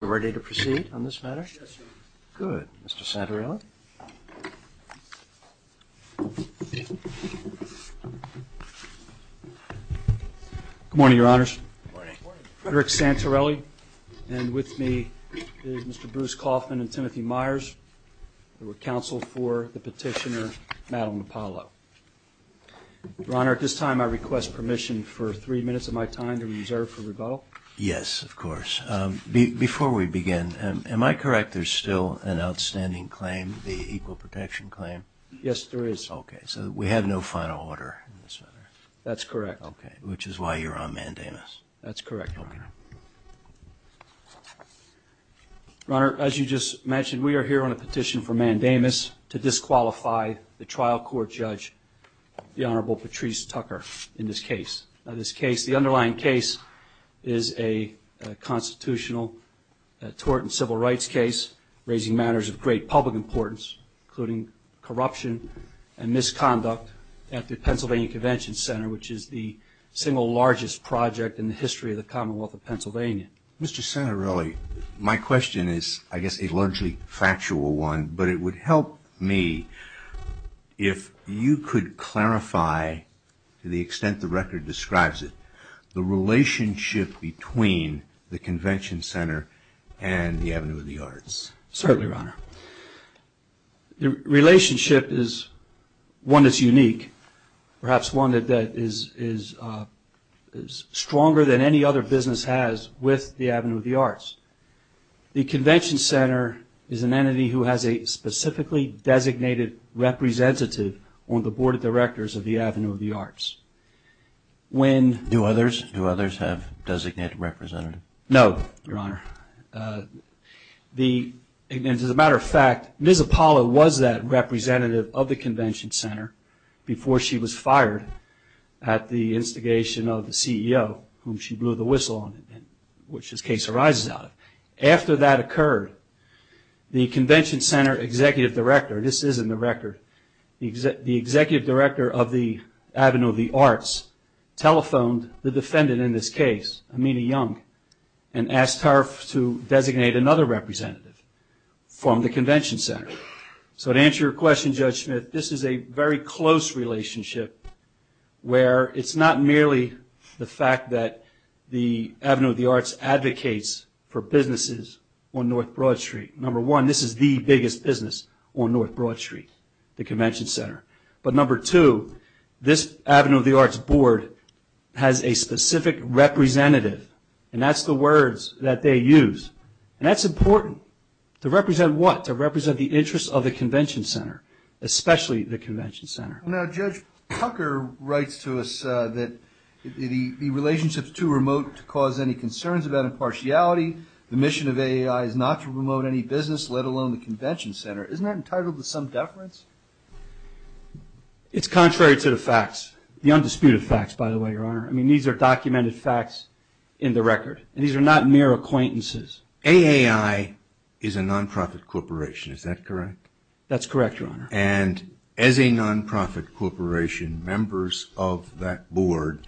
Ready to proceed on this matter? Good. Mr. Santorelli. Good morning, Your Honors. Frederick Santorelli and with me is Mr. Bruce Kaufman and Timothy Myers. They were counsel for the petitioner Madeline Apollo. Your Honor, at this time I request permission for three minutes of my time to reserve for rebuttal. Yes, of course. Before we begin, am I correct there's still an outstanding claim, the equal protection claim? Yes, there is. Okay, so we have no final order in this matter. That's correct. Okay, which is why you're on mandamus. That's correct. Your Honor, as you just mentioned, we are here on a petition for mandamus to disqualify the trial court judge, the Honorable Patrice Tucker, in this case. The underlying case is a constitutional tort and civil rights case raising matters of great public importance, including corruption and misconduct at the Pennsylvania Convention Center, which is the single largest project in the history of the Commonwealth of Pennsylvania. Mr. Santorelli, my question is, I guess, a largely factual one, but it would help me if you could clarify, to the extent the record describes it, the relationship between the Convention Center and the Avenue of the Arts. Certainly, Your Honor. The relationship is one that's unique, perhaps one that is stronger than any other business has with the Avenue of the Arts. The Convention Center is an entity who has a specifically designated representative on the board of directors of the Avenue of the Arts. Do others have a designated representative? No, Your Honor. As a matter of fact, Ms. Apollo was that representative of the Convention Center before she was fired at the instigation of the CEO, whom she blew the whistle on, which this case arises out of. After that occurred, the Convention Center executive director, this is in the record, the executive director of the Avenue of the Arts telephoned the defendant in this case, Amina Young, and asked her to designate another representative from the Convention Center. So to answer your question, Judge Smith, this is a very close relationship where it's not merely the fact that the Avenue of the Arts advocates for businesses on North Broad Street. Number one, this is the biggest business on North Broad Street, the Convention Center. But number two, this Avenue of the Arts board has a specific representative, and that's the words that they use, and that's important. To represent what? To represent the interests of the Convention Center, especially the Convention Center. Now, Judge Tucker writes to us that the relationship is too remote to cause any concerns about impartiality. The mission of AAI is not to promote any business, let alone the Convention Center. Isn't that entitled to some deference? It's contrary to the facts, the undisputed facts, by the way, Your Honor. I mean, these are documented facts in the record, and these are not mere acquaintances. AAI is a nonprofit corporation, is that correct? That's correct, Your Honor. And as a nonprofit corporation, members of that board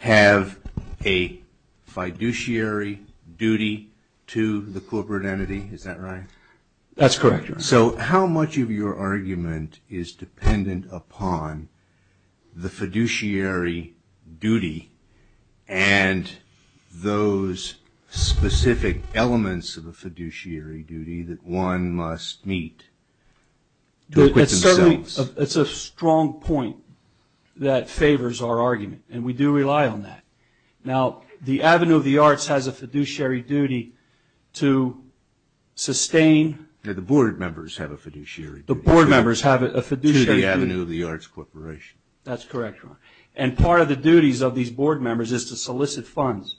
have a fiduciary duty to the corporate entity, is that right? That's correct, Your Honor. So how much of your argument is dependent upon the fiduciary duty and those specific elements of a fiduciary duty that one must meet? To equip themselves. It's a strong point that favors our argument, and we do rely on that. Now, the Avenue of the Arts has a fiduciary duty to sustain... The board members have a fiduciary duty. The board members have a fiduciary duty. To the Avenue of the Arts Corporation. That's correct, Your Honor. And part of the duties of these board members is to solicit funds,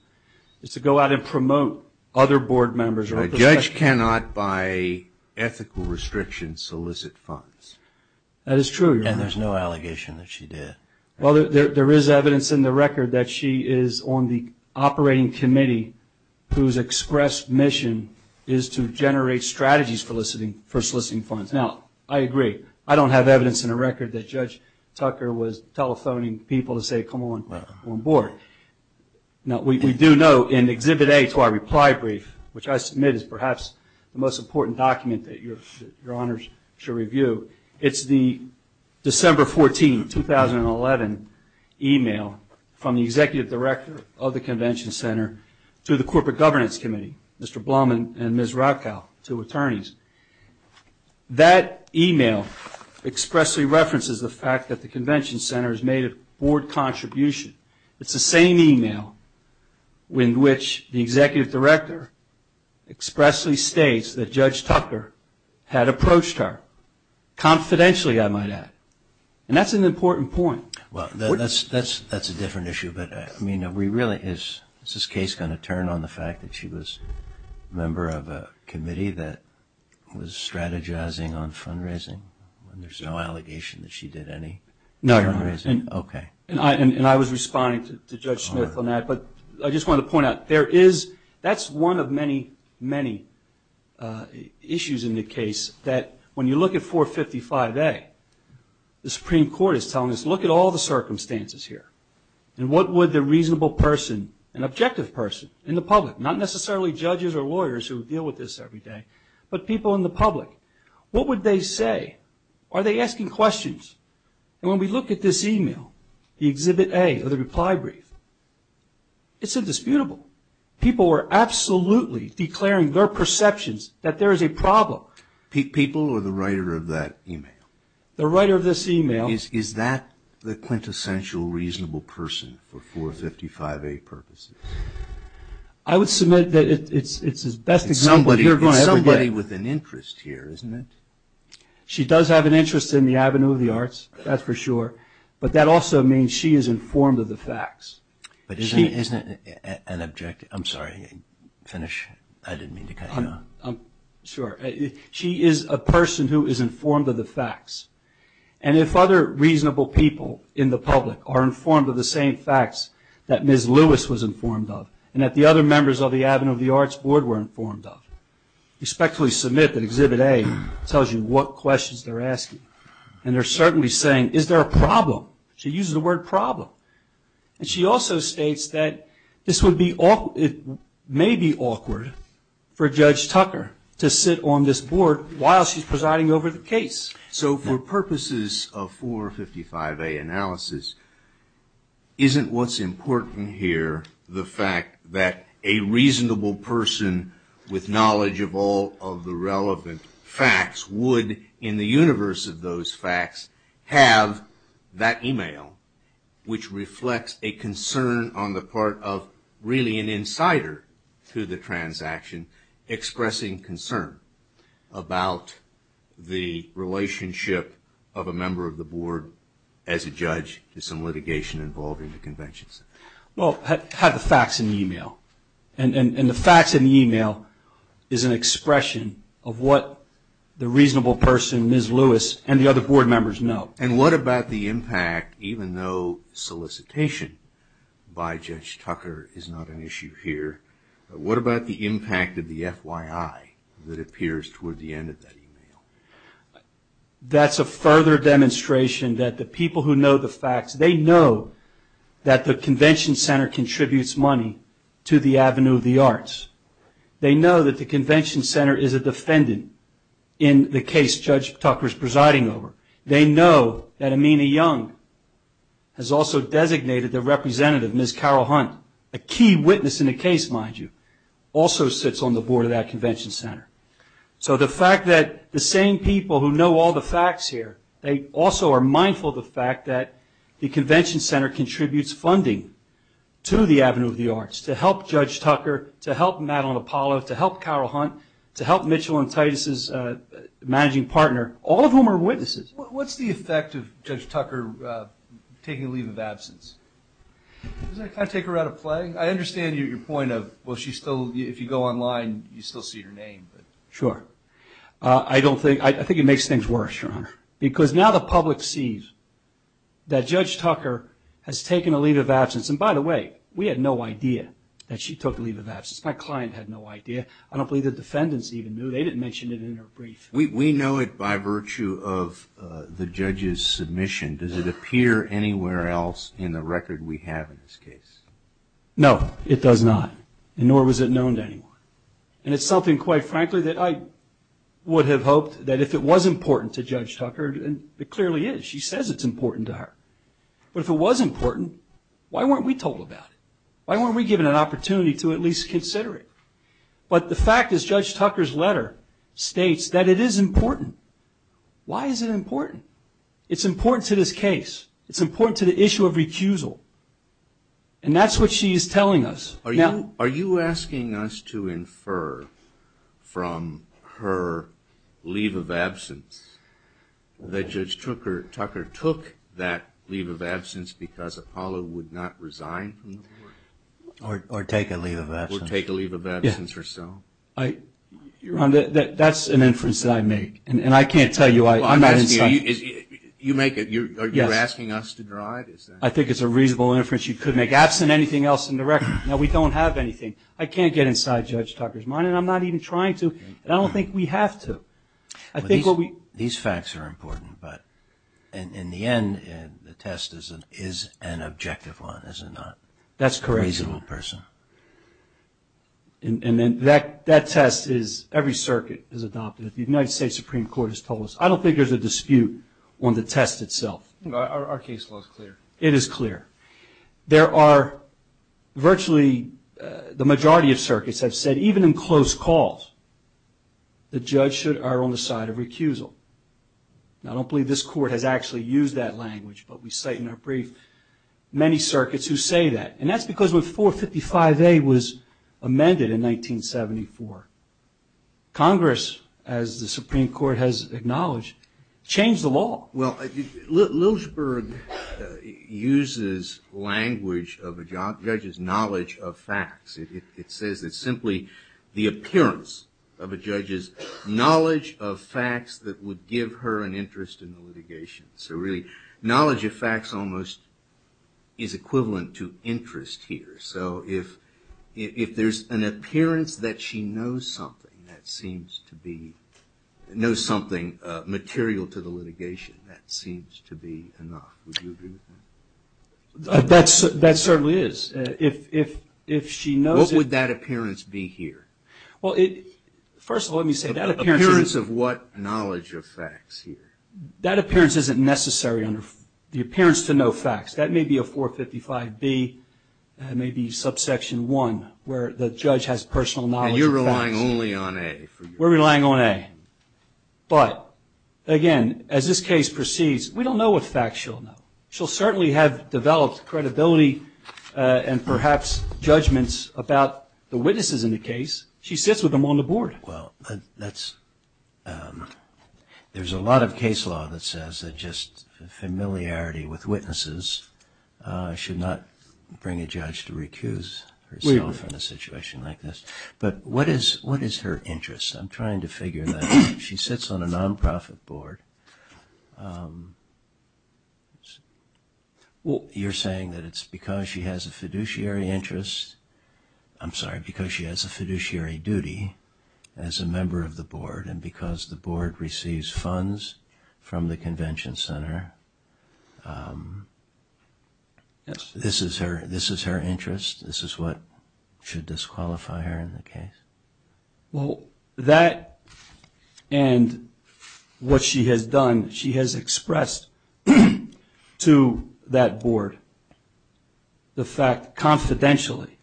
is to go out and promote other board members. A judge cannot, by ethical restriction, solicit funds. That is true, Your Honor. And there's no allegation that she did. Well, there is evidence in the record that she is on the operating committee whose express mission is to generate strategies for soliciting funds. Now, I agree. I don't have evidence in the record that Judge Tucker was telephoning people to say, Now, we do know in Exhibit A to our reply brief, which I submit is perhaps the most important document that Your Honors should review, it's the December 14, 2011, email from the Executive Director of the Convention Center to the Corporate Governance Committee, Mr. Blum and Ms. Rauchow, two attorneys. That email expressly references the fact that the Convention Center has made a board contribution. It's the same email in which the Executive Director expressly states that Judge Tucker had approached her, confidentially, I might add. And that's an important point. Well, that's a different issue, but, I mean, is this case going to turn on the fact that she was a member of a committee that was strategizing on fundraising? There's no allegation that she did any fundraising? No, Your Honor. Okay. And I was responding to Judge Smith on that. But I just wanted to point out, there is, that's one of many, many issues in the case, that when you look at 455A, the Supreme Court is telling us, look at all the circumstances here. And what would the reasonable person, an objective person in the public, not necessarily judges or lawyers who deal with this every day, but people in the public, what would they say? Are they asking questions? And when we look at this email, the Exhibit A of the reply brief, it's indisputable. People were absolutely declaring their perceptions that there is a problem. People or the writer of that email? The writer of this email. Is that the quintessential reasonable person for 455A purposes? I would submit that it's his best example here. It's somebody with an interest here, isn't it? She does have an interest in the Avenue of the Arts, that's for sure. But that also means she is informed of the facts. But isn't it an objective? I'm sorry, finish. I didn't mean to cut you off. Sure. She is a person who is informed of the facts. And if other reasonable people in the public are informed of the same facts that Ms. Lewis was informed of and that the other members of the Avenue of the Arts Board were informed of, I would respectfully submit that Exhibit A tells you what questions they're asking. And they're certainly saying, is there a problem? She uses the word problem. And she also states that this may be awkward for Judge Tucker to sit on this board while she's presiding over the case. So for purposes of 455A analysis, isn't what's important here the fact that a reasonable person with knowledge of all of the relevant facts would, in the universe of those facts, have that email, which reflects a concern on the part of really an insider to the transaction, expressing concern about the relationship of a member of the board as a judge to some litigation involving the Convention Center? Well, have the facts in the email. And the facts in the email is an expression of what the reasonable person, Ms. Lewis, and the other board members know. And what about the impact, even though solicitation by Judge Tucker is not an issue here, what about the impact of the FYI that appears toward the end of that email? That's a further demonstration that the people who know the facts, they know that the Convention Center contributes money to the Avenue of the Arts. They know that the Convention Center is a defendant in the case Judge Tucker is presiding over. They know that Amina Young has also designated their representative, Ms. Carol Hunt, a key witness in the case, mind you, also sits on the board of that Convention Center. So the fact that the same people who know all the facts here, they also are mindful of the fact that the Convention Center contributes funding to the Avenue of the Arts to help Judge Tucker, to help Madeline Apollo, to help Carol Hunt, to help Mitchell and Titus's managing partner, all of whom are witnesses. What's the effect of Judge Tucker taking a leave of absence? Does that kind of take her out of play? I understand your point of, well, if you go online, you still see her name. Sure. I think it makes things worse, Your Honor, because now the public sees that Judge Tucker has taken a leave of absence. And by the way, we had no idea that she took a leave of absence. My client had no idea. I don't believe the defendants even knew. They didn't mention it in her brief. We know it by virtue of the judge's submission. Does it appear anywhere else in the record we have in this case? No, it does not. Nor was it known to anyone. And it's something, quite frankly, that I would have hoped that if it was important to Judge Tucker, and it clearly is. She says it's important to her. But if it was important, why weren't we told about it? Why weren't we given an opportunity to at least consider it? But the fact is Judge Tucker's letter states that it is important. Why is it important? It's important to this case. It's important to the issue of recusal. And that's what she's telling us. Are you asking us to infer from her leave of absence that Judge Tucker took that leave of absence because Apollo would not resign from the board? Or take a leave of absence. Or take a leave of absence herself. Your Honor, that's an inference that I make. And I can't tell you. I'm not inside. You're asking us to drive? I think it's a reasonable inference you could make. Absent anything else in the record. Now, we don't have anything. I can't get inside Judge Tucker's mind. And I'm not even trying to. And I don't think we have to. These facts are important. But in the end, the test is an objective one, is it not? That's correct. A reasonable person. And that test is, every circuit is adopted. The United States Supreme Court has told us. I don't think there's a dispute on the test itself. Our case law is clear. It is clear. There are virtually the majority of circuits have said, even in close calls, the judge should err on the side of recusal. Now, I don't believe this court has actually used that language, but we cite in our brief many circuits who say that. And that's because when 455A was amended in 1974, Congress, as the Supreme Court has acknowledged, changed the law. Well, Lilschberg uses language of a judge's knowledge of facts. It says it's simply the appearance of a judge's knowledge of facts that would give her an interest in the litigation. So really, knowledge of facts almost is equivalent to interest here. So if there's an appearance that she knows something that seems to be, knows something material to the litigation, that seems to be enough. Would you agree with that? That certainly is. If she knows it. What would that appearance be here? Well, first of all, let me say that appearance. Appearance of what knowledge of facts here? That appearance isn't necessary. The appearance to know facts, that may be a 455B. That may be subsection 1, where the judge has personal knowledge of facts. And you're relying only on A. We're relying on A. But, again, as this case proceeds, we don't know what facts she'll know. She'll certainly have developed credibility and perhaps judgments about the witnesses in the case. She sits with them on the board. Well, there's a lot of case law that says that just familiarity with witnesses should not bring a judge to recuse herself from a situation like this. But what is her interest? I'm trying to figure that out. She sits on a non-profit board. You're saying that it's because she has a fiduciary interest. I'm sorry, because she has a fiduciary duty as a member of the board and because the board receives funds from the convention center. Yes. This is her interest? This is what should disqualify her in the case? Well, that and what she has done, she has expressed to that board the fact confidentially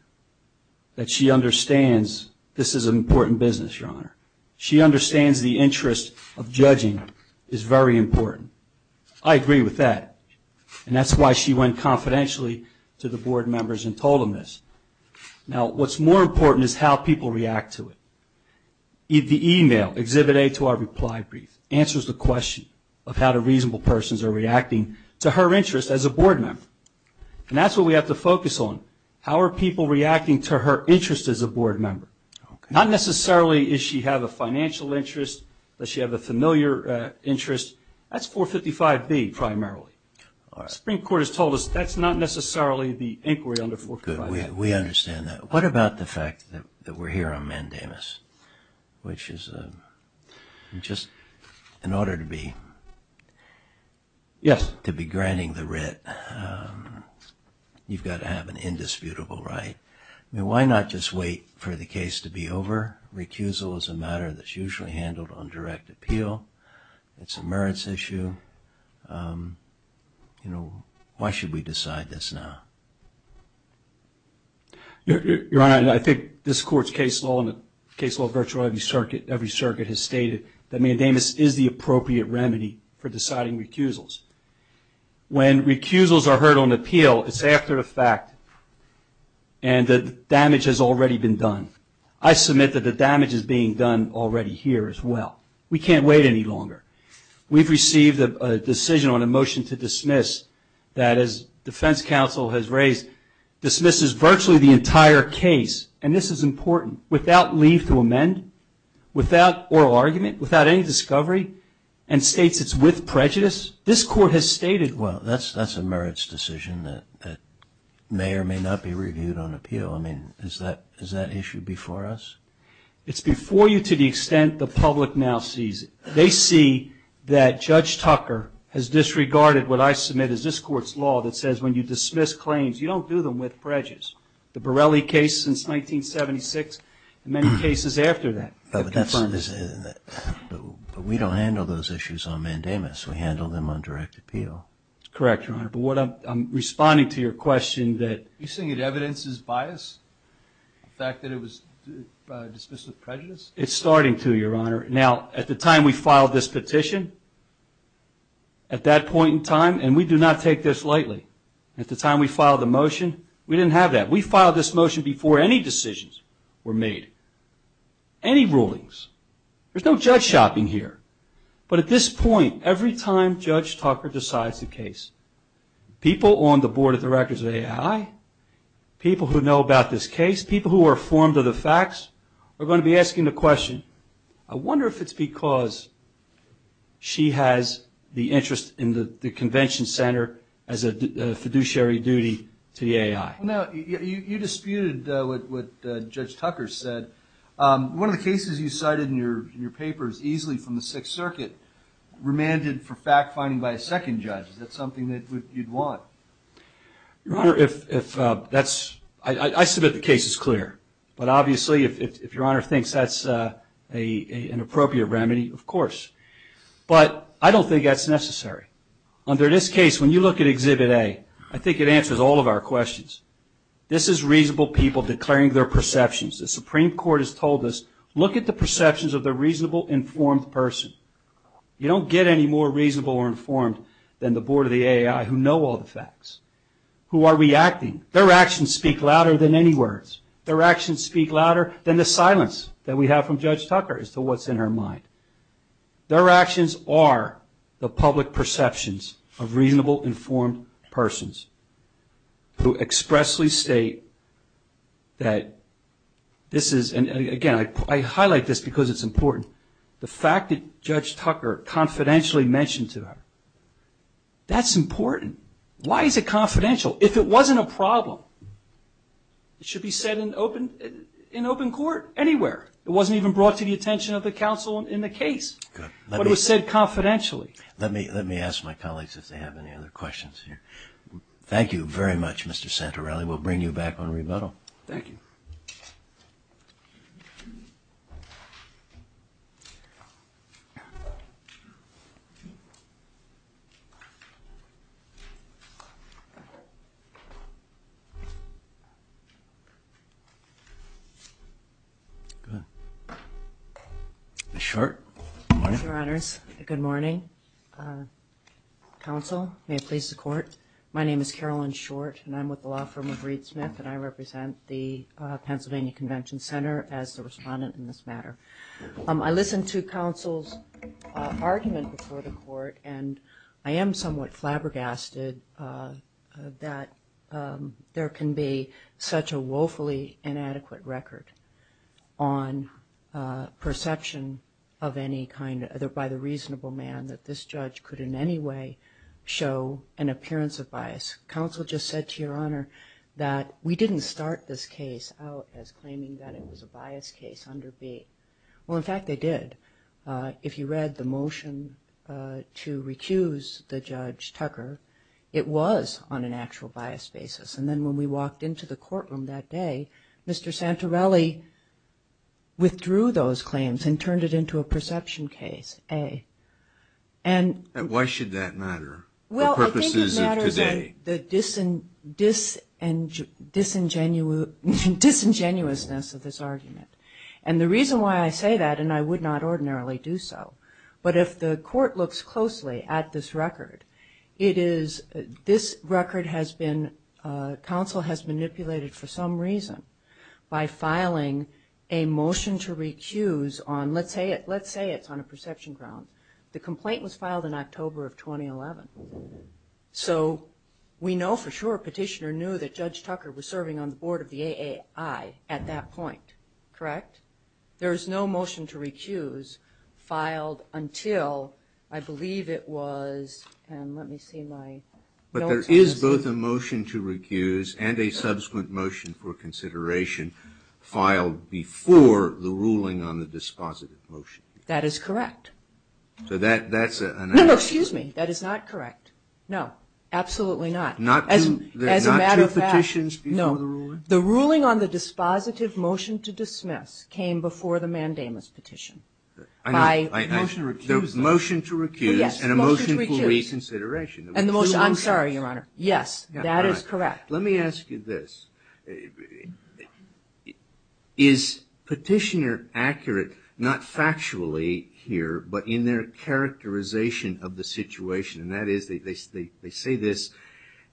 that she understands this is an important business, Your Honor. She understands the interest of judging is very important. I agree with that, and that's why she went confidentially to the board members and told them this. Now, what's more important is how people react to it. The email, Exhibit A to our reply brief, answers the question of how the reasonable persons are reacting to her interest as a board member. And that's what we have to focus on. How are people reacting to her interest as a board member? Not necessarily does she have a financial interest, does she have a familiar interest. That's 455B primarily. The Supreme Court has told us that's not necessarily the inquiry under 455B. Good. We understand that. What about the fact that we're here on mandamus, which is just in order to be granting the writ, you've got to have an indisputable right. Why not just wait for the case to be over? Recusal is a matter that's usually handled on direct appeal. It's a merits issue. Why should we decide this now? Your Honor, I think this Court's case law and the case law of virtually every circuit has stated that mandamus is the appropriate remedy for deciding recusals. When recusals are heard on appeal, it's after a fact, and the damage has already been done. I submit that the damage is being done already here as well. We can't wait any longer. We've received a decision on a motion to dismiss that, as defense counsel has raised, dismisses virtually the entire case, and this is important, without leave to amend, without oral argument, without any discovery, and states it's with prejudice. This Court has stated. Well, that's a merits decision that may or may not be reviewed on appeal. I mean, is that issue before us? It's before you to the extent the public now sees it. They see that Judge Tucker has disregarded what I submit is this Court's law that says when you dismiss claims, you don't do them with prejudice. The Borelli case since 1976 and many cases after that. But we don't handle those issues on mandamus. We handle them on direct appeal. That's correct, Your Honor. But I'm responding to your question. Are you saying that evidence is biased? The fact that it was dismissed with prejudice? It's starting to, Your Honor. Now, at the time we filed this petition, at that point in time, and we do not take this lightly, at the time we filed the motion, we didn't have that. We filed this motion before any decisions were made, any rulings. There's no judge shopping here. But at this point, every time Judge Tucker decides a case, people on the Board of Directors of AI, people who know about this case, people who are informed of the facts are going to be asking the question, I wonder if it's because she has the interest in the convention center as a fiduciary duty to the AI. Now, you disputed what Judge Tucker said. One of the cases you cited in your paper is easily from the Sixth Circuit, remanded for fact-finding by a second judge. Is that something that you'd want? Your Honor, I submit the case is clear. But obviously, if Your Honor thinks that's an appropriate remedy, of course. But I don't think that's necessary. Under this case, when you look at Exhibit A, I think it answers all of our questions. This is reasonable people declaring their perceptions. The Supreme Court has told us, look at the perceptions of the reasonable, informed person. You don't get any more reasonable or informed than the Board of the AI, who know all the facts, who are reacting. Their actions speak louder than any words. Their actions speak louder than the silence that we have from Judge Tucker as to what's in her mind. Their actions are the public perceptions of reasonable, informed persons who expressly state that this is, and again, I highlight this because it's important. The fact that Judge Tucker confidentially mentioned to her, that's important. Why is it confidential? If it wasn't a problem, it should be said in open court anywhere. It wasn't even brought to the attention of the counsel in the case, but it was said confidentially. Let me ask my colleagues if they have any other questions. Thank you very much, Mr. Santorelli. We'll bring you back on rebuttal. Thank you. Ms. Short. Your Honors, good morning. Counsel, may it please the court. My name is Carolyn Short, and I'm with the law firm of Reed Smith, and I represent the Pennsylvania Convention Center as the respondent in this matter. I listened to counsel's argument before the court, and I am somewhat flabbergasted that there can be such a woefully inadequate record on perception by the reasonable man that this judge could in any way show an appearance of bias. Counsel just said to Your Honor that we didn't start this case out as claiming that it was a bias case under B. Well, in fact, they did. If you read the motion to recuse the Judge Tucker, it was on an actual bias basis. And then when we walked into the courtroom that day, Mr. Santorelli withdrew those claims and turned it into a perception case, A. And why should that matter for purposes of today? Well, I think it matters in the disingenuousness of this argument. And the reason why I say that, and I would not ordinarily do so, but if the court looks closely at this record, it is this record has been, counsel has manipulated for some reason by filing a motion to recuse on, let's say it's on a perception ground. The complaint was filed in October of 2011. So we know for sure Petitioner knew that Judge Tucker was serving on the board of the AAI at that point, correct? There is no motion to recuse filed until I believe it was, and let me see my notes. But there is both a motion to recuse and a subsequent motion for consideration filed before the ruling on the dispositive motion. That is correct. So that's an answer. No, no, excuse me. That is not correct. No, absolutely not. As a matter of fact. Not two petitions before the ruling? The ruling on the dispositive motion to dismiss came before the mandamus petition. By motion to recuse. Motion to recuse and a motion for reconsideration. I'm sorry, Your Honor. Yes, that is correct. Let me ask you this. Is Petitioner accurate, not factually here, but in their characterization of the situation, and that is they say this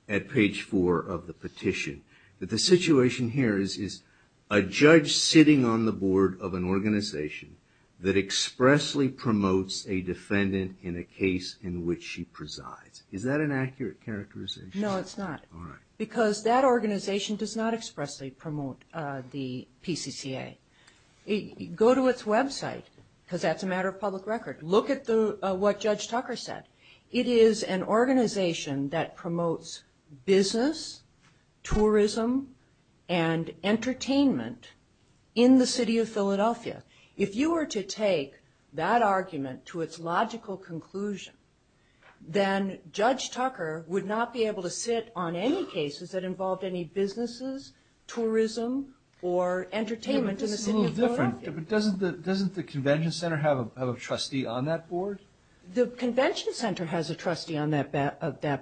at page four of the petition. That the situation here is a judge sitting on the board of an organization that expressly promotes a defendant in a case in which she presides. Is that an accurate characterization? No, it's not. All right. Because that organization does not expressly promote the PCCA. Go to its website, because that's a matter of public record. Look at what Judge Tucker said. It is an organization that promotes business, tourism, and entertainment in the city of Philadelphia. If you were to take that argument to its logical conclusion, then Judge Tucker would not be able to sit on any cases that involved any businesses, tourism, or entertainment in the city of Philadelphia. This is a little different. Doesn't the convention center have a trustee on that board? The convention center has a trustee on that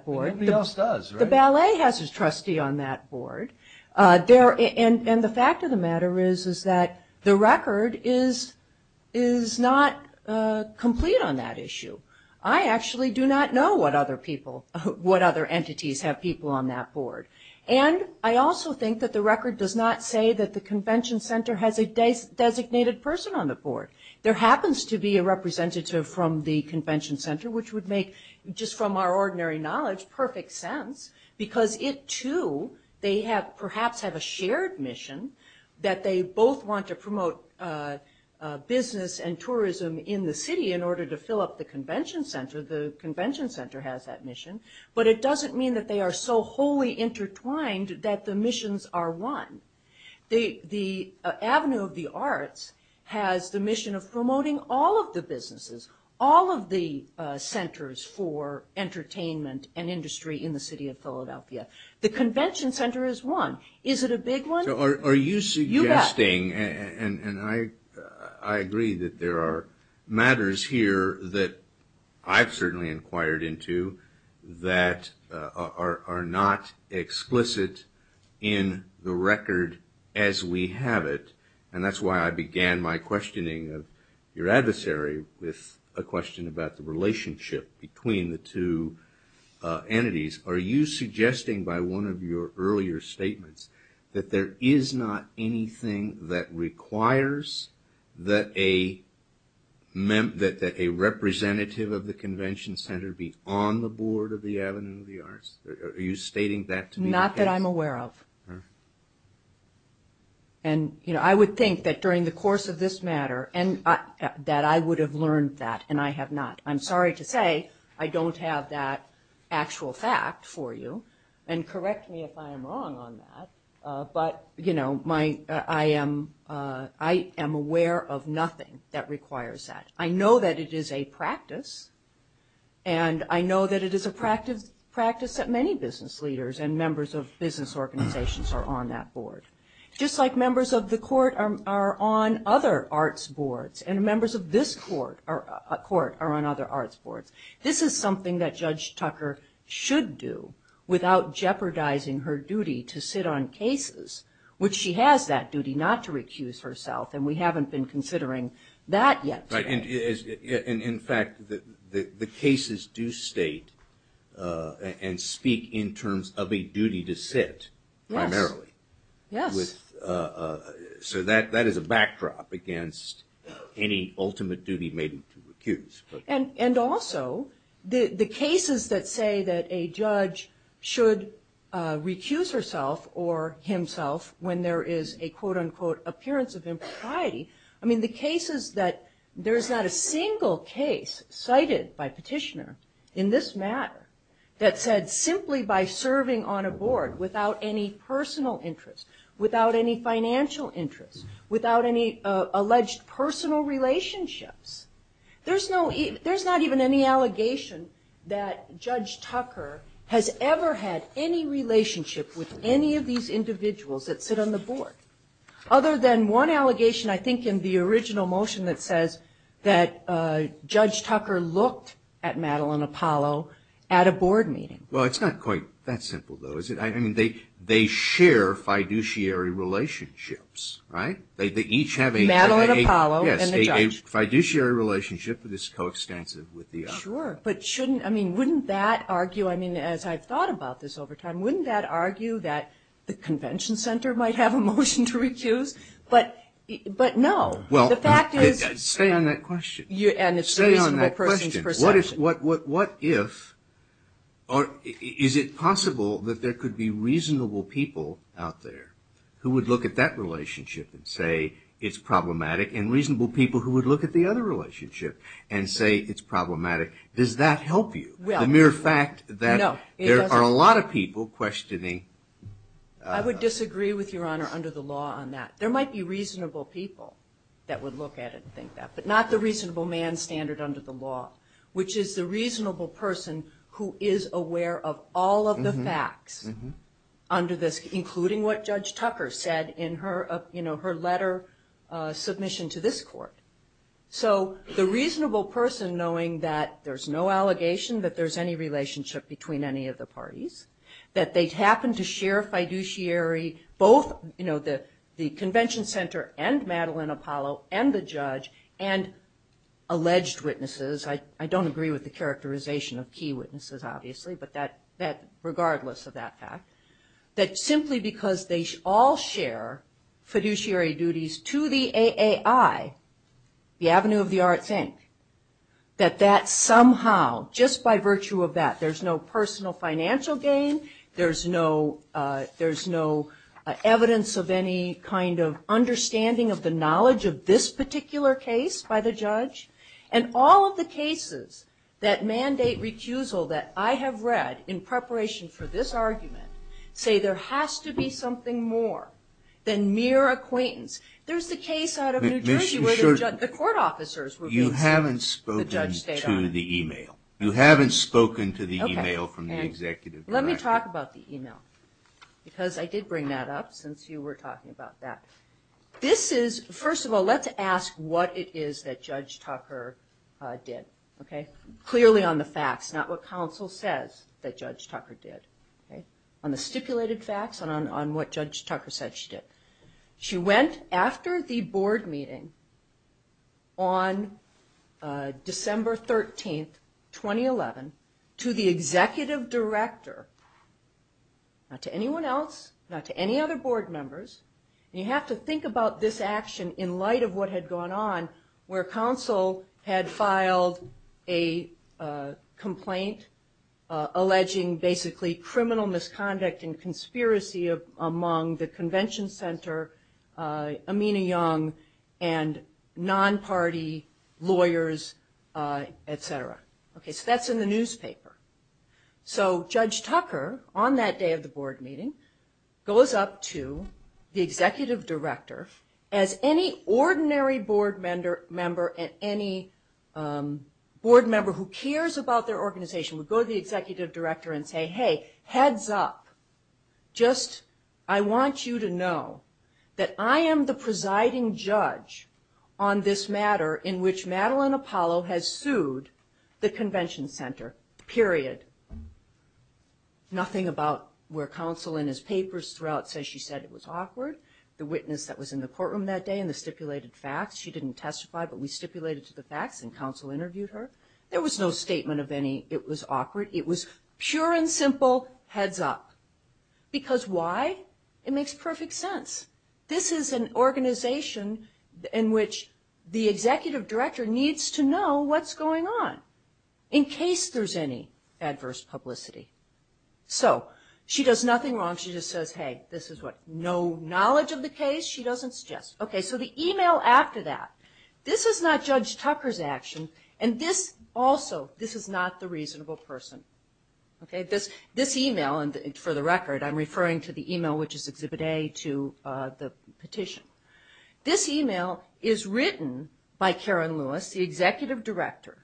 board. Everybody else does, right? The ballet has a trustee on that board. And the fact of the matter is that the record is not complete on that issue. I actually do not know what other people, what other entities have people on that board. And I also think that the record does not say that the convention center has a designated person on the board. There happens to be a representative from the convention center, which would make, just from our ordinary knowledge, perfect sense, because it, too, they perhaps have a shared mission that they both want to promote business and tourism in the city in order to fill up the convention center. The convention center has that mission. But it doesn't mean that they are so wholly intertwined that the missions are one. The Avenue of the Arts has the mission of promoting all of the businesses, all of the centers for entertainment and industry in the city of Philadelphia. The convention center is one. Is it a big one? So are you suggesting, and I agree that there are matters here that I've certainly inquired into that are not explicit in the record as we have it, and that's why I began my questioning of your adversary with a question about the relationship between the two entities. Are you suggesting by one of your earlier statements that there is not anything that requires that a representative of the convention center be on the board of the Avenue of the Arts? Are you stating that to me? Not that I'm aware of. And, you know, I would think that during the course of this matter that I would have learned that, and I have not. I'm sorry to say I don't have that actual fact for you, and correct me if I am wrong on that. But, you know, I am aware of nothing that requires that. I know that it is a practice, and I know that it is a practice that many business leaders and members of business organizations are on that board. Just like members of the court are on other arts boards, and members of this court are on other arts boards. This is something that Judge Tucker should do without jeopardizing her duty to sit on cases, which she has that duty not to recuse herself, and we haven't been considering that yet. And, in fact, the cases do state and speak in terms of a duty to sit primarily. Yes. So that is a backdrop against any ultimate duty made to recuse. And also, the cases that say that a judge should recuse herself or himself when there is a quote, unquote, appearance of impropriety, I mean, the cases that there is not a single case cited by petitioner in this matter that said simply by serving on a board without any personal interest, without any financial interest, without any alleged personal relationships. There is not even any allegation that Judge Tucker has ever had any relationship with any of these individuals that sit on the board, other than one allegation, I think, in the original motion that says that Judge Tucker looked at Madeleine Apollo at a board meeting. Well, it's not quite that simple, though, is it? I mean, they share fiduciary relationships, right? They each have a- Madeleine Apollo and the judge. Yes, a fiduciary relationship that is coextensive with the other. Sure, but shouldn't, I mean, wouldn't that argue, I mean, as I've thought about this over time, wouldn't that argue that the convention center might have a motion to recuse? But no, the fact is- Stay on that question. And it's a reasonable person's perception. Stay on that question. What if, or is it possible that there could be reasonable people out there who would look at that relationship and say it's problematic, and reasonable people who would look at the other relationship and say it's problematic? Does that help you? Well- The mere fact that- No, it doesn't. There are a lot of people questioning- I would disagree with Your Honor under the law on that. There might be reasonable people that would look at it and think that, but not the reasonable man standard under the law, which is the reasonable person who is aware of all of the facts under this, including what Judge Tucker said in her letter submission to this court. So the reasonable person knowing that there's no allegation that there's any relationship between any of the parties, that they happen to share fiduciary, both the convention center and Madeline Apollo and the judge, and alleged witnesses. I don't agree with the characterization of key witnesses, obviously, regardless of that fact. That simply because they all share fiduciary duties to the AAI, the Avenue of the Arts, Inc., that that somehow, just by virtue of that, there's no personal financial gain, there's no evidence of any kind of understanding of the knowledge of this particular case by the judge, and all of the cases that mandate recusal that I have read in preparation for this argument, say there has to be something more than mere acquaintance. There's the case out of New Jersey where the court officers- You haven't spoken to the e-mail. You haven't spoken to the e-mail from the executive director. Let me talk about the e-mail, because I did bring that up since you were talking about that. First of all, let's ask what it is that Judge Tucker did. Clearly on the facts, not what counsel says that Judge Tucker did. On the stipulated facts and on what Judge Tucker said she did. She went after the board meeting on December 13, 2011, to the executive director, not to anyone else, not to any other board members. And you have to think about this action in light of what had gone on where counsel had filed a complaint alleging basically criminal misconduct and conspiracy among the convention center, Amina Young, and non-party lawyers, et cetera. So that's in the newspaper. So Judge Tucker on that day of the board meeting goes up to the executive director as any ordinary board member and any board member who cares about their organization would go to the executive director and say, hey, heads up. Just I want you to know that I am the presiding judge on this matter in which Madeline Apollo has sued the convention center, period. Nothing about where counsel in his papers throughout says she said it was awkward. The witness that was in the courtroom that day and the stipulated facts, she didn't testify but we stipulated to the facts and counsel interviewed her. There was no statement of any it was awkward. It was pure and simple heads up. Because why? It makes perfect sense. This is an organization in which the executive director needs to know what's going on in case there's any adverse publicity. So she does nothing wrong. She just says, hey, this is what no knowledge of the case. She doesn't suggest. Okay, so the email after that. This is not Judge Tucker's action, and this also, this is not the reasonable person. This email, and for the record, I'm referring to the email which is Exhibit A to the petition. This email is written by Karen Lewis, the executive director,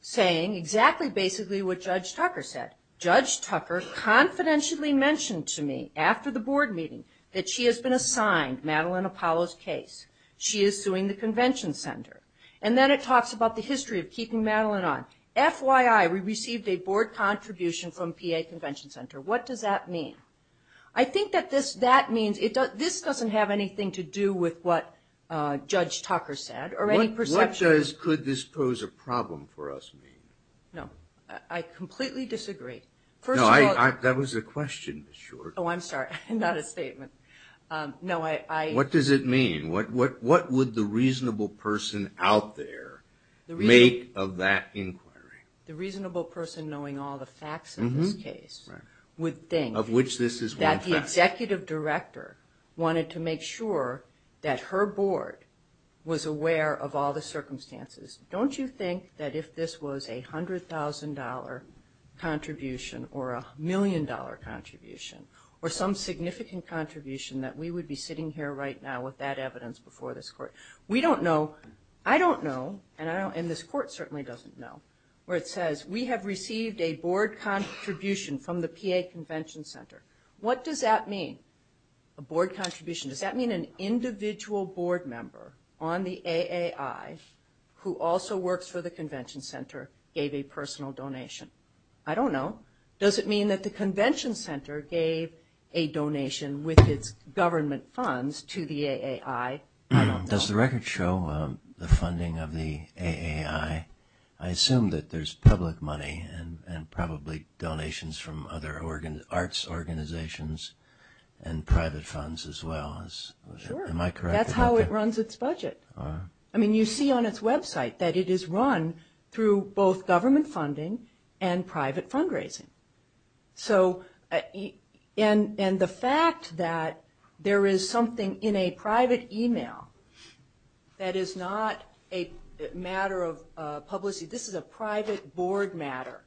saying exactly basically what Judge Tucker said. Judge Tucker confidentially mentioned to me after the board meeting that she has been assigned Madeline Apollo's case. She is suing the convention center. And then it talks about the history of keeping Madeline on. Now, FYI, we received a board contribution from PA Convention Center. What does that mean? I think that that means this doesn't have anything to do with what Judge Tucker said or any perception. What does could this pose a problem for us mean? No, I completely disagree. No, that was a question, Ms. Short. Oh, I'm sorry, not a statement. No, I. What does it mean? What would the reasonable person out there make of that inquiry? The reasonable person knowing all the facts in this case would think that the executive director wanted to make sure that her board was aware of all the circumstances. Don't you think that if this was a $100,000 contribution or a million-dollar contribution or some significant contribution that we would be sitting here right now with that evidence before this court? We don't know. I don't know, and this court certainly doesn't know, where it says, we have received a board contribution from the PA Convention Center. What does that mean, a board contribution? Does that mean an individual board member on the AAI who also works for the convention center gave a personal donation? I don't know. Does it mean that the convention center gave a donation with its government funds to the AAI? I don't know. Does the record show the funding of the AAI? I assume that there's public money and probably donations from other arts organizations and private funds as well. Sure. Am I correct? That's how it runs its budget. You see on its website that it is run through both government funding and private fundraising. The fact that there is something in a private email that is not a matter of publicity, this is a private board matter.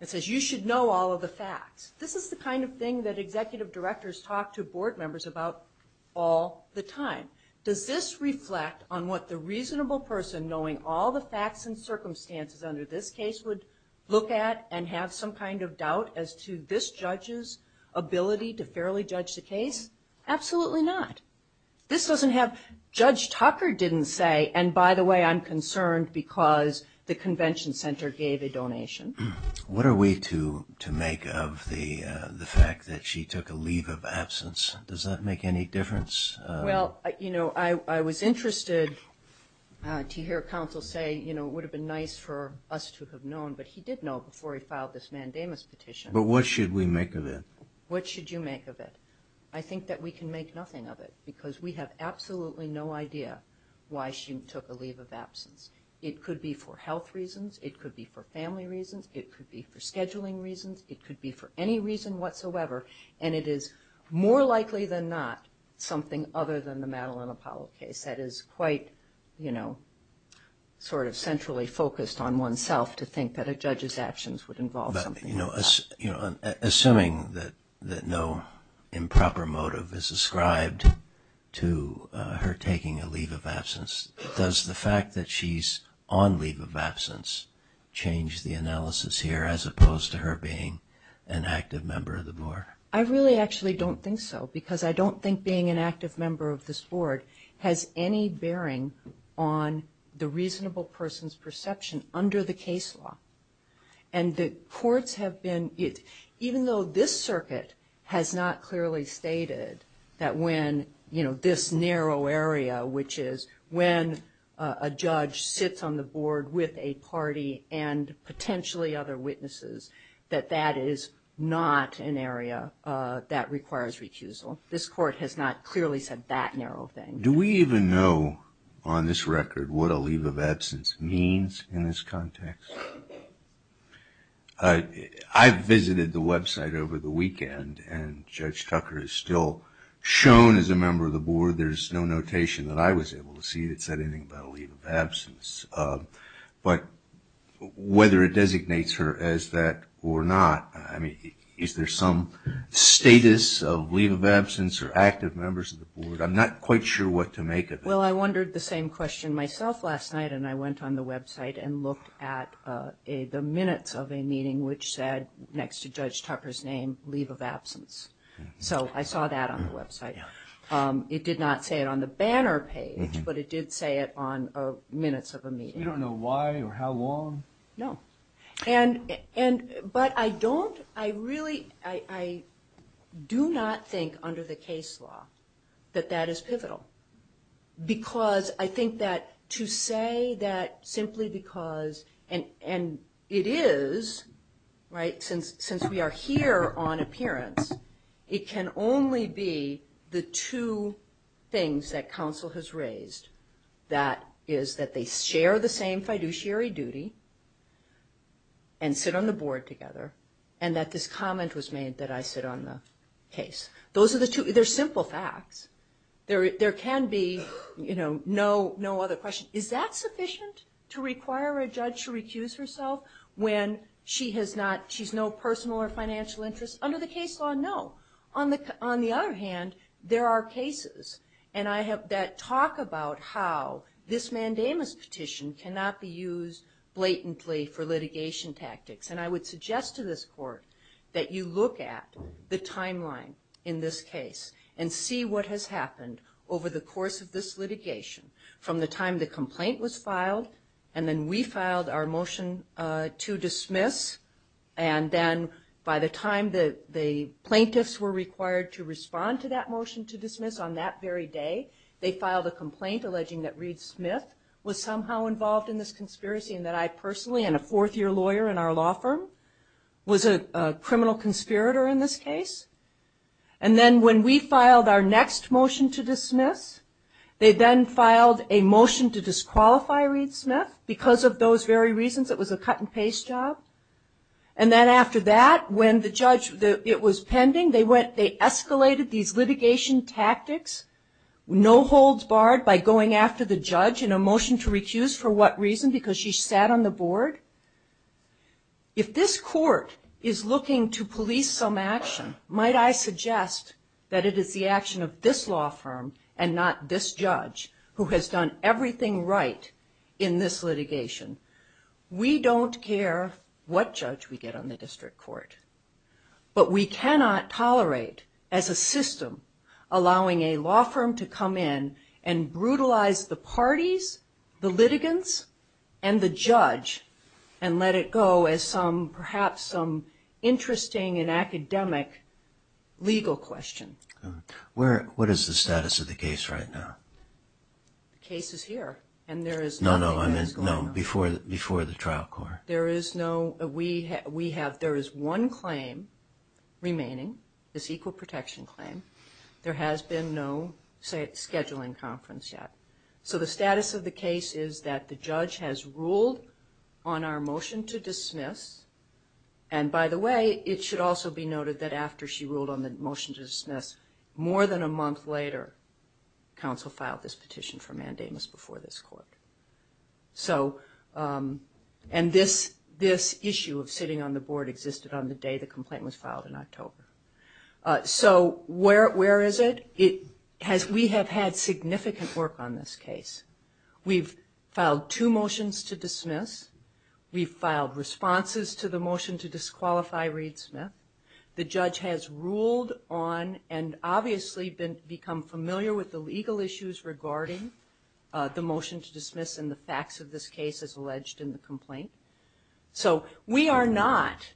It says, you should know all of the facts. This is the kind of thing that executive directors talk to board members about all the time. Does this reflect on what the reasonable person, knowing all the facts and circumstances under this case, would look at and have some kind of doubt as to this judge's ability to fairly judge the case? Absolutely not. Judge Tucker didn't say, and by the way, I'm concerned because the convention center gave a donation. What are we to make of the fact that she took a leave of absence? Does that make any difference? Well, you know, I was interested to hear counsel say, you know, it would have been nice for us to have known, but he did know before he filed this mandamus petition. But what should we make of it? What should you make of it? I think that we can make nothing of it because we have absolutely no idea why she took a leave of absence. It could be for health reasons. It could be for family reasons. It could be for scheduling reasons. It could be for any reason whatsoever. And it is more likely than not something other than the Madeline Apollo case that is quite, you know, sort of centrally focused on oneself to think that a judge's actions would involve something like that. Assuming that no improper motive is ascribed to her taking a leave of absence, does the fact that she's on leave of absence change the analysis here as opposed to her being an active member of the board? I really actually don't think so because I don't think being an active member of this board has any bearing on the reasonable person's perception under the case law. And the courts have been, even though this circuit has not clearly stated that when, you know, this narrow area, which is when a judge sits on the board with a party and potentially other witnesses, that that is not an area that requires recusal. This court has not clearly said that narrow thing. Do we even know on this record what a leave of absence means in this context? I visited the website over the weekend, and Judge Tucker is still shown as a member of the board. There's no notation that I was able to see that said anything about a leave of absence. But whether it designates her as that or not, I mean, is there some status of leave of absence or active members of the board? I'm not quite sure what to make of it. Well, I wondered the same question myself last night, and I went on the website and looked at the minutes of a meeting which said next to Judge Tucker's name, leave of absence. So I saw that on the website. It did not say it on the banner page, but it did say it on minutes of a meeting. You don't know why or how long? No. But I don't, I really, I do not think under the case law that that is pivotal. Because I think that to say that simply because, and it is, right, because since we are here on appearance, it can only be the two things that counsel has raised, that is that they share the same fiduciary duty and sit on the board together, and that this comment was made that I sit on the case. Those are the two, they're simple facts. There can be, you know, no other question. Is that sufficient to require a judge to recuse herself when she has not, she's no personal or financial interest? Under the case law, no. On the other hand, there are cases that talk about how this mandamus petition cannot be used blatantly for litigation tactics. And I would suggest to this court that you look at the timeline in this case and see what has happened over the course of this litigation from the time the complaint was filed and then we filed our motion to dismiss. And then by the time the plaintiffs were required to respond to that motion to dismiss on that very day, they filed a complaint alleging that Reed Smith was somehow involved in this conspiracy and that I personally, and a fourth-year lawyer in our law firm, was a criminal conspirator in this case. And then when we filed our next motion to dismiss, they then filed a motion to disqualify Reed Smith because of those very reasons. It was a cut-and-paste job. And then after that, when the judge, it was pending, they escalated these litigation tactics, no holds barred, by going after the judge in a motion to recuse for what reason? Because she sat on the board? If this court is looking to police some action, might I suggest that it is the action of this law firm and not this judge who has done everything right in this litigation? We don't care what judge we get on the district court. But we cannot tolerate, as a system, allowing a law firm to come in and brutalize the parties, the litigants, and the judge, and let it go as perhaps some interesting and academic legal question. What is the status of the case right now? The case is here. No, no, before the trial court. There is one claim remaining, this equal protection claim. There has been no scheduling conference yet. So the status of the case is that the judge has ruled on our motion to dismiss. And by the way, it should also be noted that after she ruled on the motion to dismiss, more than a month later, counsel filed this petition for mandamus before this court. And this issue of sitting on the board existed on the day the complaint was filed in October. So where is it? We have had significant work on this case. We've filed two motions to dismiss. We've filed responses to the motion to disqualify Reed Smith. The judge has ruled on and obviously become familiar with the legal issues regarding the motion to dismiss So we are not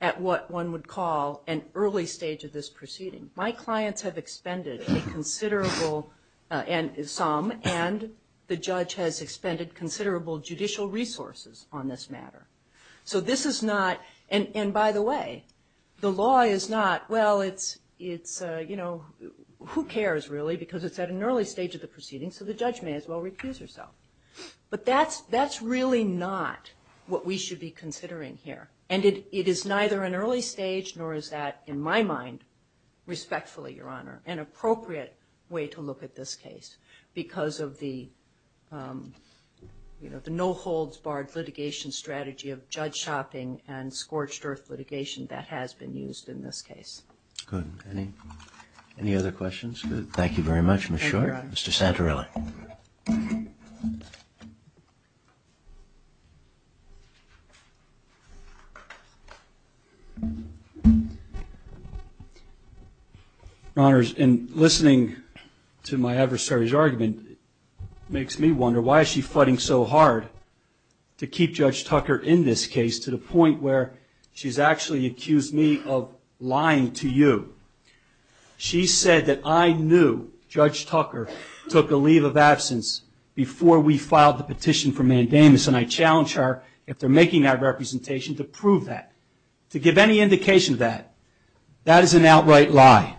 at what one would call an early stage of this proceeding. My clients have expended a considerable, some, and the judge has expended considerable judicial resources on this matter. So this is not, and by the way, the law is not, well, it's, you know, who cares really because it's at an early stage of the proceeding, so the judge may as well recuse herself. But that's really not what we should be considering here. And it is neither an early stage nor is that, in my mind, respectfully, Your Honor, an appropriate way to look at this case because of the, you know, the no holds barred litigation strategy of judge shopping and scorched earth litigation that has been used in this case. Good. Any other questions? Thank you very much, Ms. Short. Thank you, Your Honor. Mr. Santorelli. Your Honors, in listening to my adversary's argument, it makes me wonder why is she fighting so hard to keep Judge Tucker in this case to the point where she's actually accused me of lying to you. She said that I knew Judge Tucker took a leave of absence before we filed the petition for mandamus, and I challenge her, if they're making that representation, to prove that. To give any indication of that. That is an outright lie.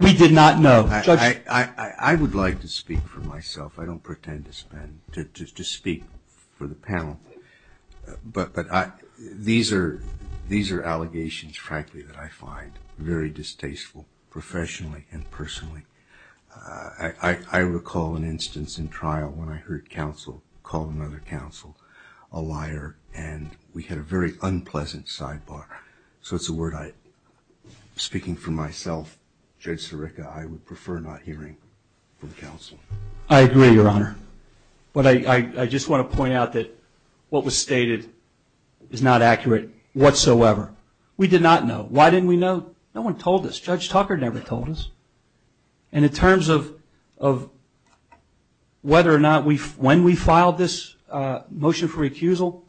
We did not know. Judge? I would like to speak for myself. I don't pretend to speak for the panel. But these are allegations, frankly, that I find very distasteful, professionally and personally. I recall an instance in trial when I heard counsel call another counsel a liar, and we had a very unpleasant sidebar. So it's a word I, speaking for myself, Judge Sirica, I would prefer not hearing from counsel. I agree, Your Honor. But I just want to point out that what was stated is not accurate whatsoever. We did not know. Why didn't we know? No one told us. Judge Tucker never told us. And in terms of whether or not when we filed this motion for recusal,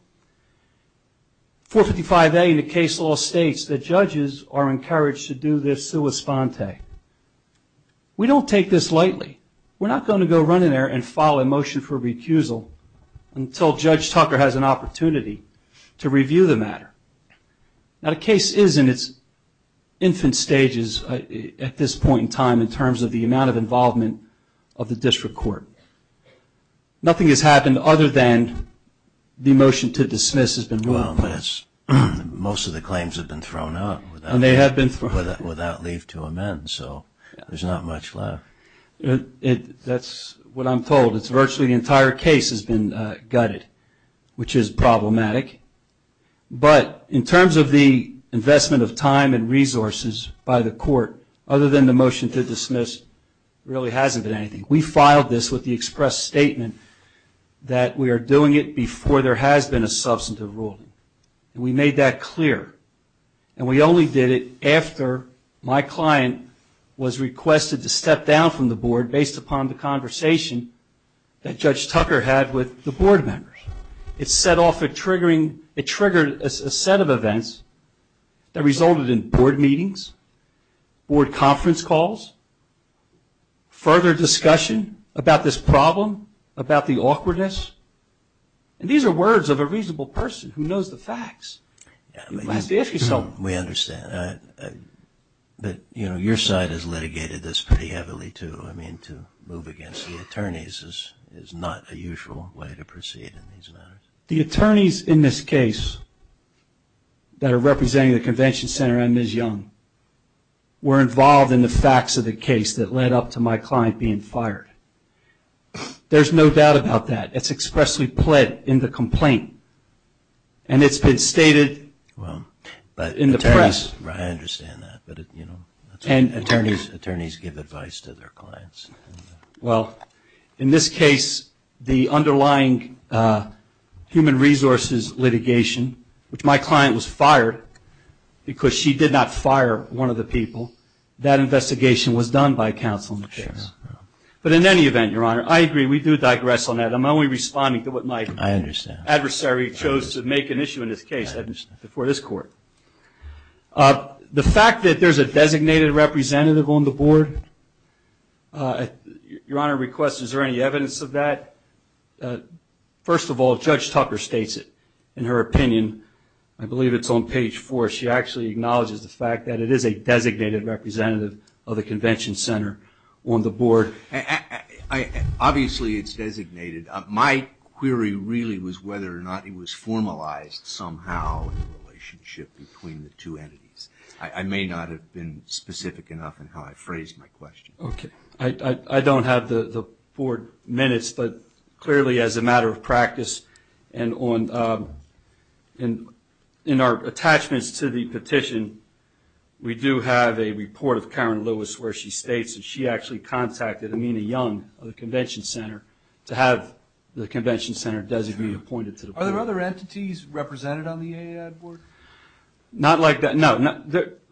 455A in the case law states that judges are encouraged to do this sua sponte. We don't take this lightly. We're not going to go run in there and file a motion for recusal until Judge Tucker has an opportunity to review the matter. Now, the case is in its infant stages at this point in time in terms of the amount of involvement of the district court. Nothing has happened other than the motion to dismiss has been moved. Well, most of the claims have been thrown out without leave to amend, so there's not much left. That's what I'm told. It's virtually the entire case has been gutted, which is problematic. But in terms of the investment of time and resources by the court, other than the motion to dismiss, there really hasn't been anything. We filed this with the express statement that we are doing it before there has been a substantive ruling, and we made that clear. And we only did it after my client was requested to step down from the board based upon the conversation that Judge Tucker had with the board members. It set off a triggering, it triggered a set of events that resulted in board meetings, board conference calls, further discussion about this problem, about the awkwardness. And these are words of a reasonable person who knows the facts. We understand. But, you know, your side has litigated this pretty heavily, too. I mean, to move against the attorneys is not a usual way to proceed in these matters. The attorneys in this case that are representing the convention center and Ms. Young were involved in the facts of the case that led up to my client being fired. There's no doubt about that. It's expressly pled in the complaint. And it's been stated in the press. I understand that. And attorneys give advice to their clients. Well, in this case, the underlying human resources litigation, which my client was fired because she did not fire one of the people, that investigation was done by counsel in the case. But in any event, Your Honor, I agree, we do digress on that. I'm only responding to what my adversary chose to make an issue in this case before this court. The fact that there's a designated representative on the board, Your Honor requests, is there any evidence of that? First of all, Judge Tucker states it in her opinion. I believe it's on page four. She actually acknowledges the fact that it is a designated representative of the convention center on the board. Obviously it's designated. My query really was whether or not it was formalized somehow in the relationship between the two entities. I may not have been specific enough in how I phrased my question. Okay. I don't have the board minutes, but clearly as a matter of practice, and in our attachments to the petition, we do have a report of Karen Lewis where she states that she actually contacted Amina Young of the convention center to have the convention center designated and appointed to the board. Are there other entities represented on the AAAD board? Not like that. No.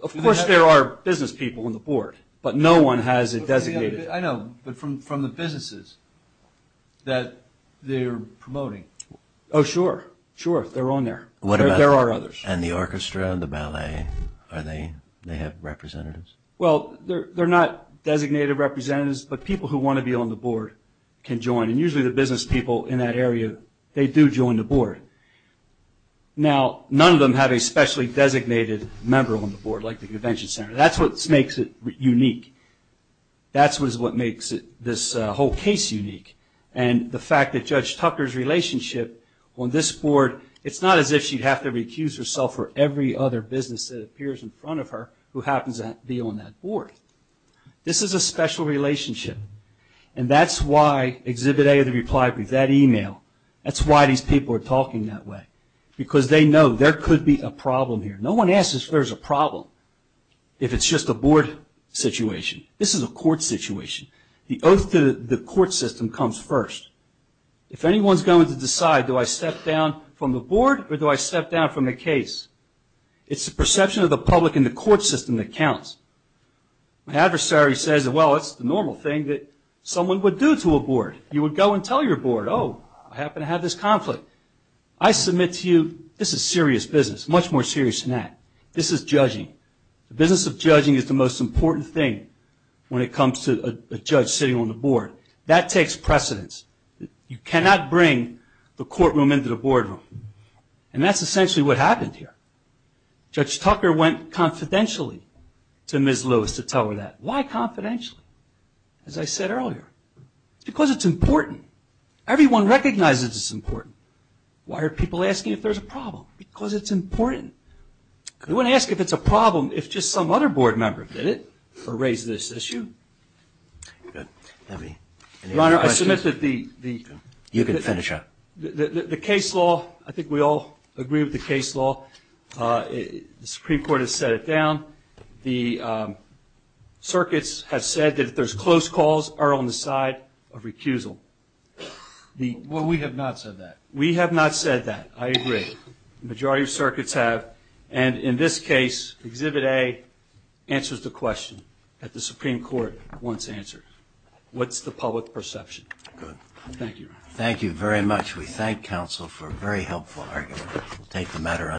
Of course there are business people on the board, but no one has a designated. I know, but from the businesses that they're promoting. Oh, sure. Sure, they're on there. There are others. And the orchestra and the ballet, are they, they have representatives? Well, they're not designated representatives, but people who want to be on the board can join. And usually the business people in that area, they do join the board. Now, none of them have a specially designated member on the board, like the convention center. That's what makes it unique. That's what makes this whole case unique. And the fact that Judge Tucker's relationship on this board, it's not as if she'd have to recuse herself for every other business that This is a special relationship. And that's why Exhibit A of the reply brief, that email, that's why these people are talking that way, because they know there could be a problem here. No one asks if there's a problem, if it's just a board situation. This is a court situation. The oath to the court system comes first. If anyone's going to decide, do I step down from the board or do I step down from the case? It's the perception of the public in the court system that counts. My adversary says, well, it's the normal thing that someone would do to a board. You would go and tell your board, oh, I happen to have this conflict. I submit to you, this is serious business, much more serious than that. This is judging. The business of judging is the most important thing when it comes to a judge sitting on the board. That takes precedence. You cannot bring the courtroom into the boardroom. That's essentially what happened here. Judge Tucker went confidentially to Ms. Lewis to tell her that. Why confidentially? As I said earlier, because it's important. Everyone recognizes it's important. Why are people asking if there's a problem? Because it's important. They wouldn't ask if it's a problem if just some other board member did it or raised this issue. Your Honor, I submit that the... You can finish up. The case law, I think we all agree with the case law. The Supreme Court has set it down. The circuits have said that if there's close calls, they're on the side of recusal. Well, we have not said that. We have not said that. I agree. The majority of circuits have. And in this case, Exhibit A answers the question that the Supreme Court once answered. What's the public perception? Good. Thank you, Your Honor. Thank you very much. We thank counsel for a very helpful argument.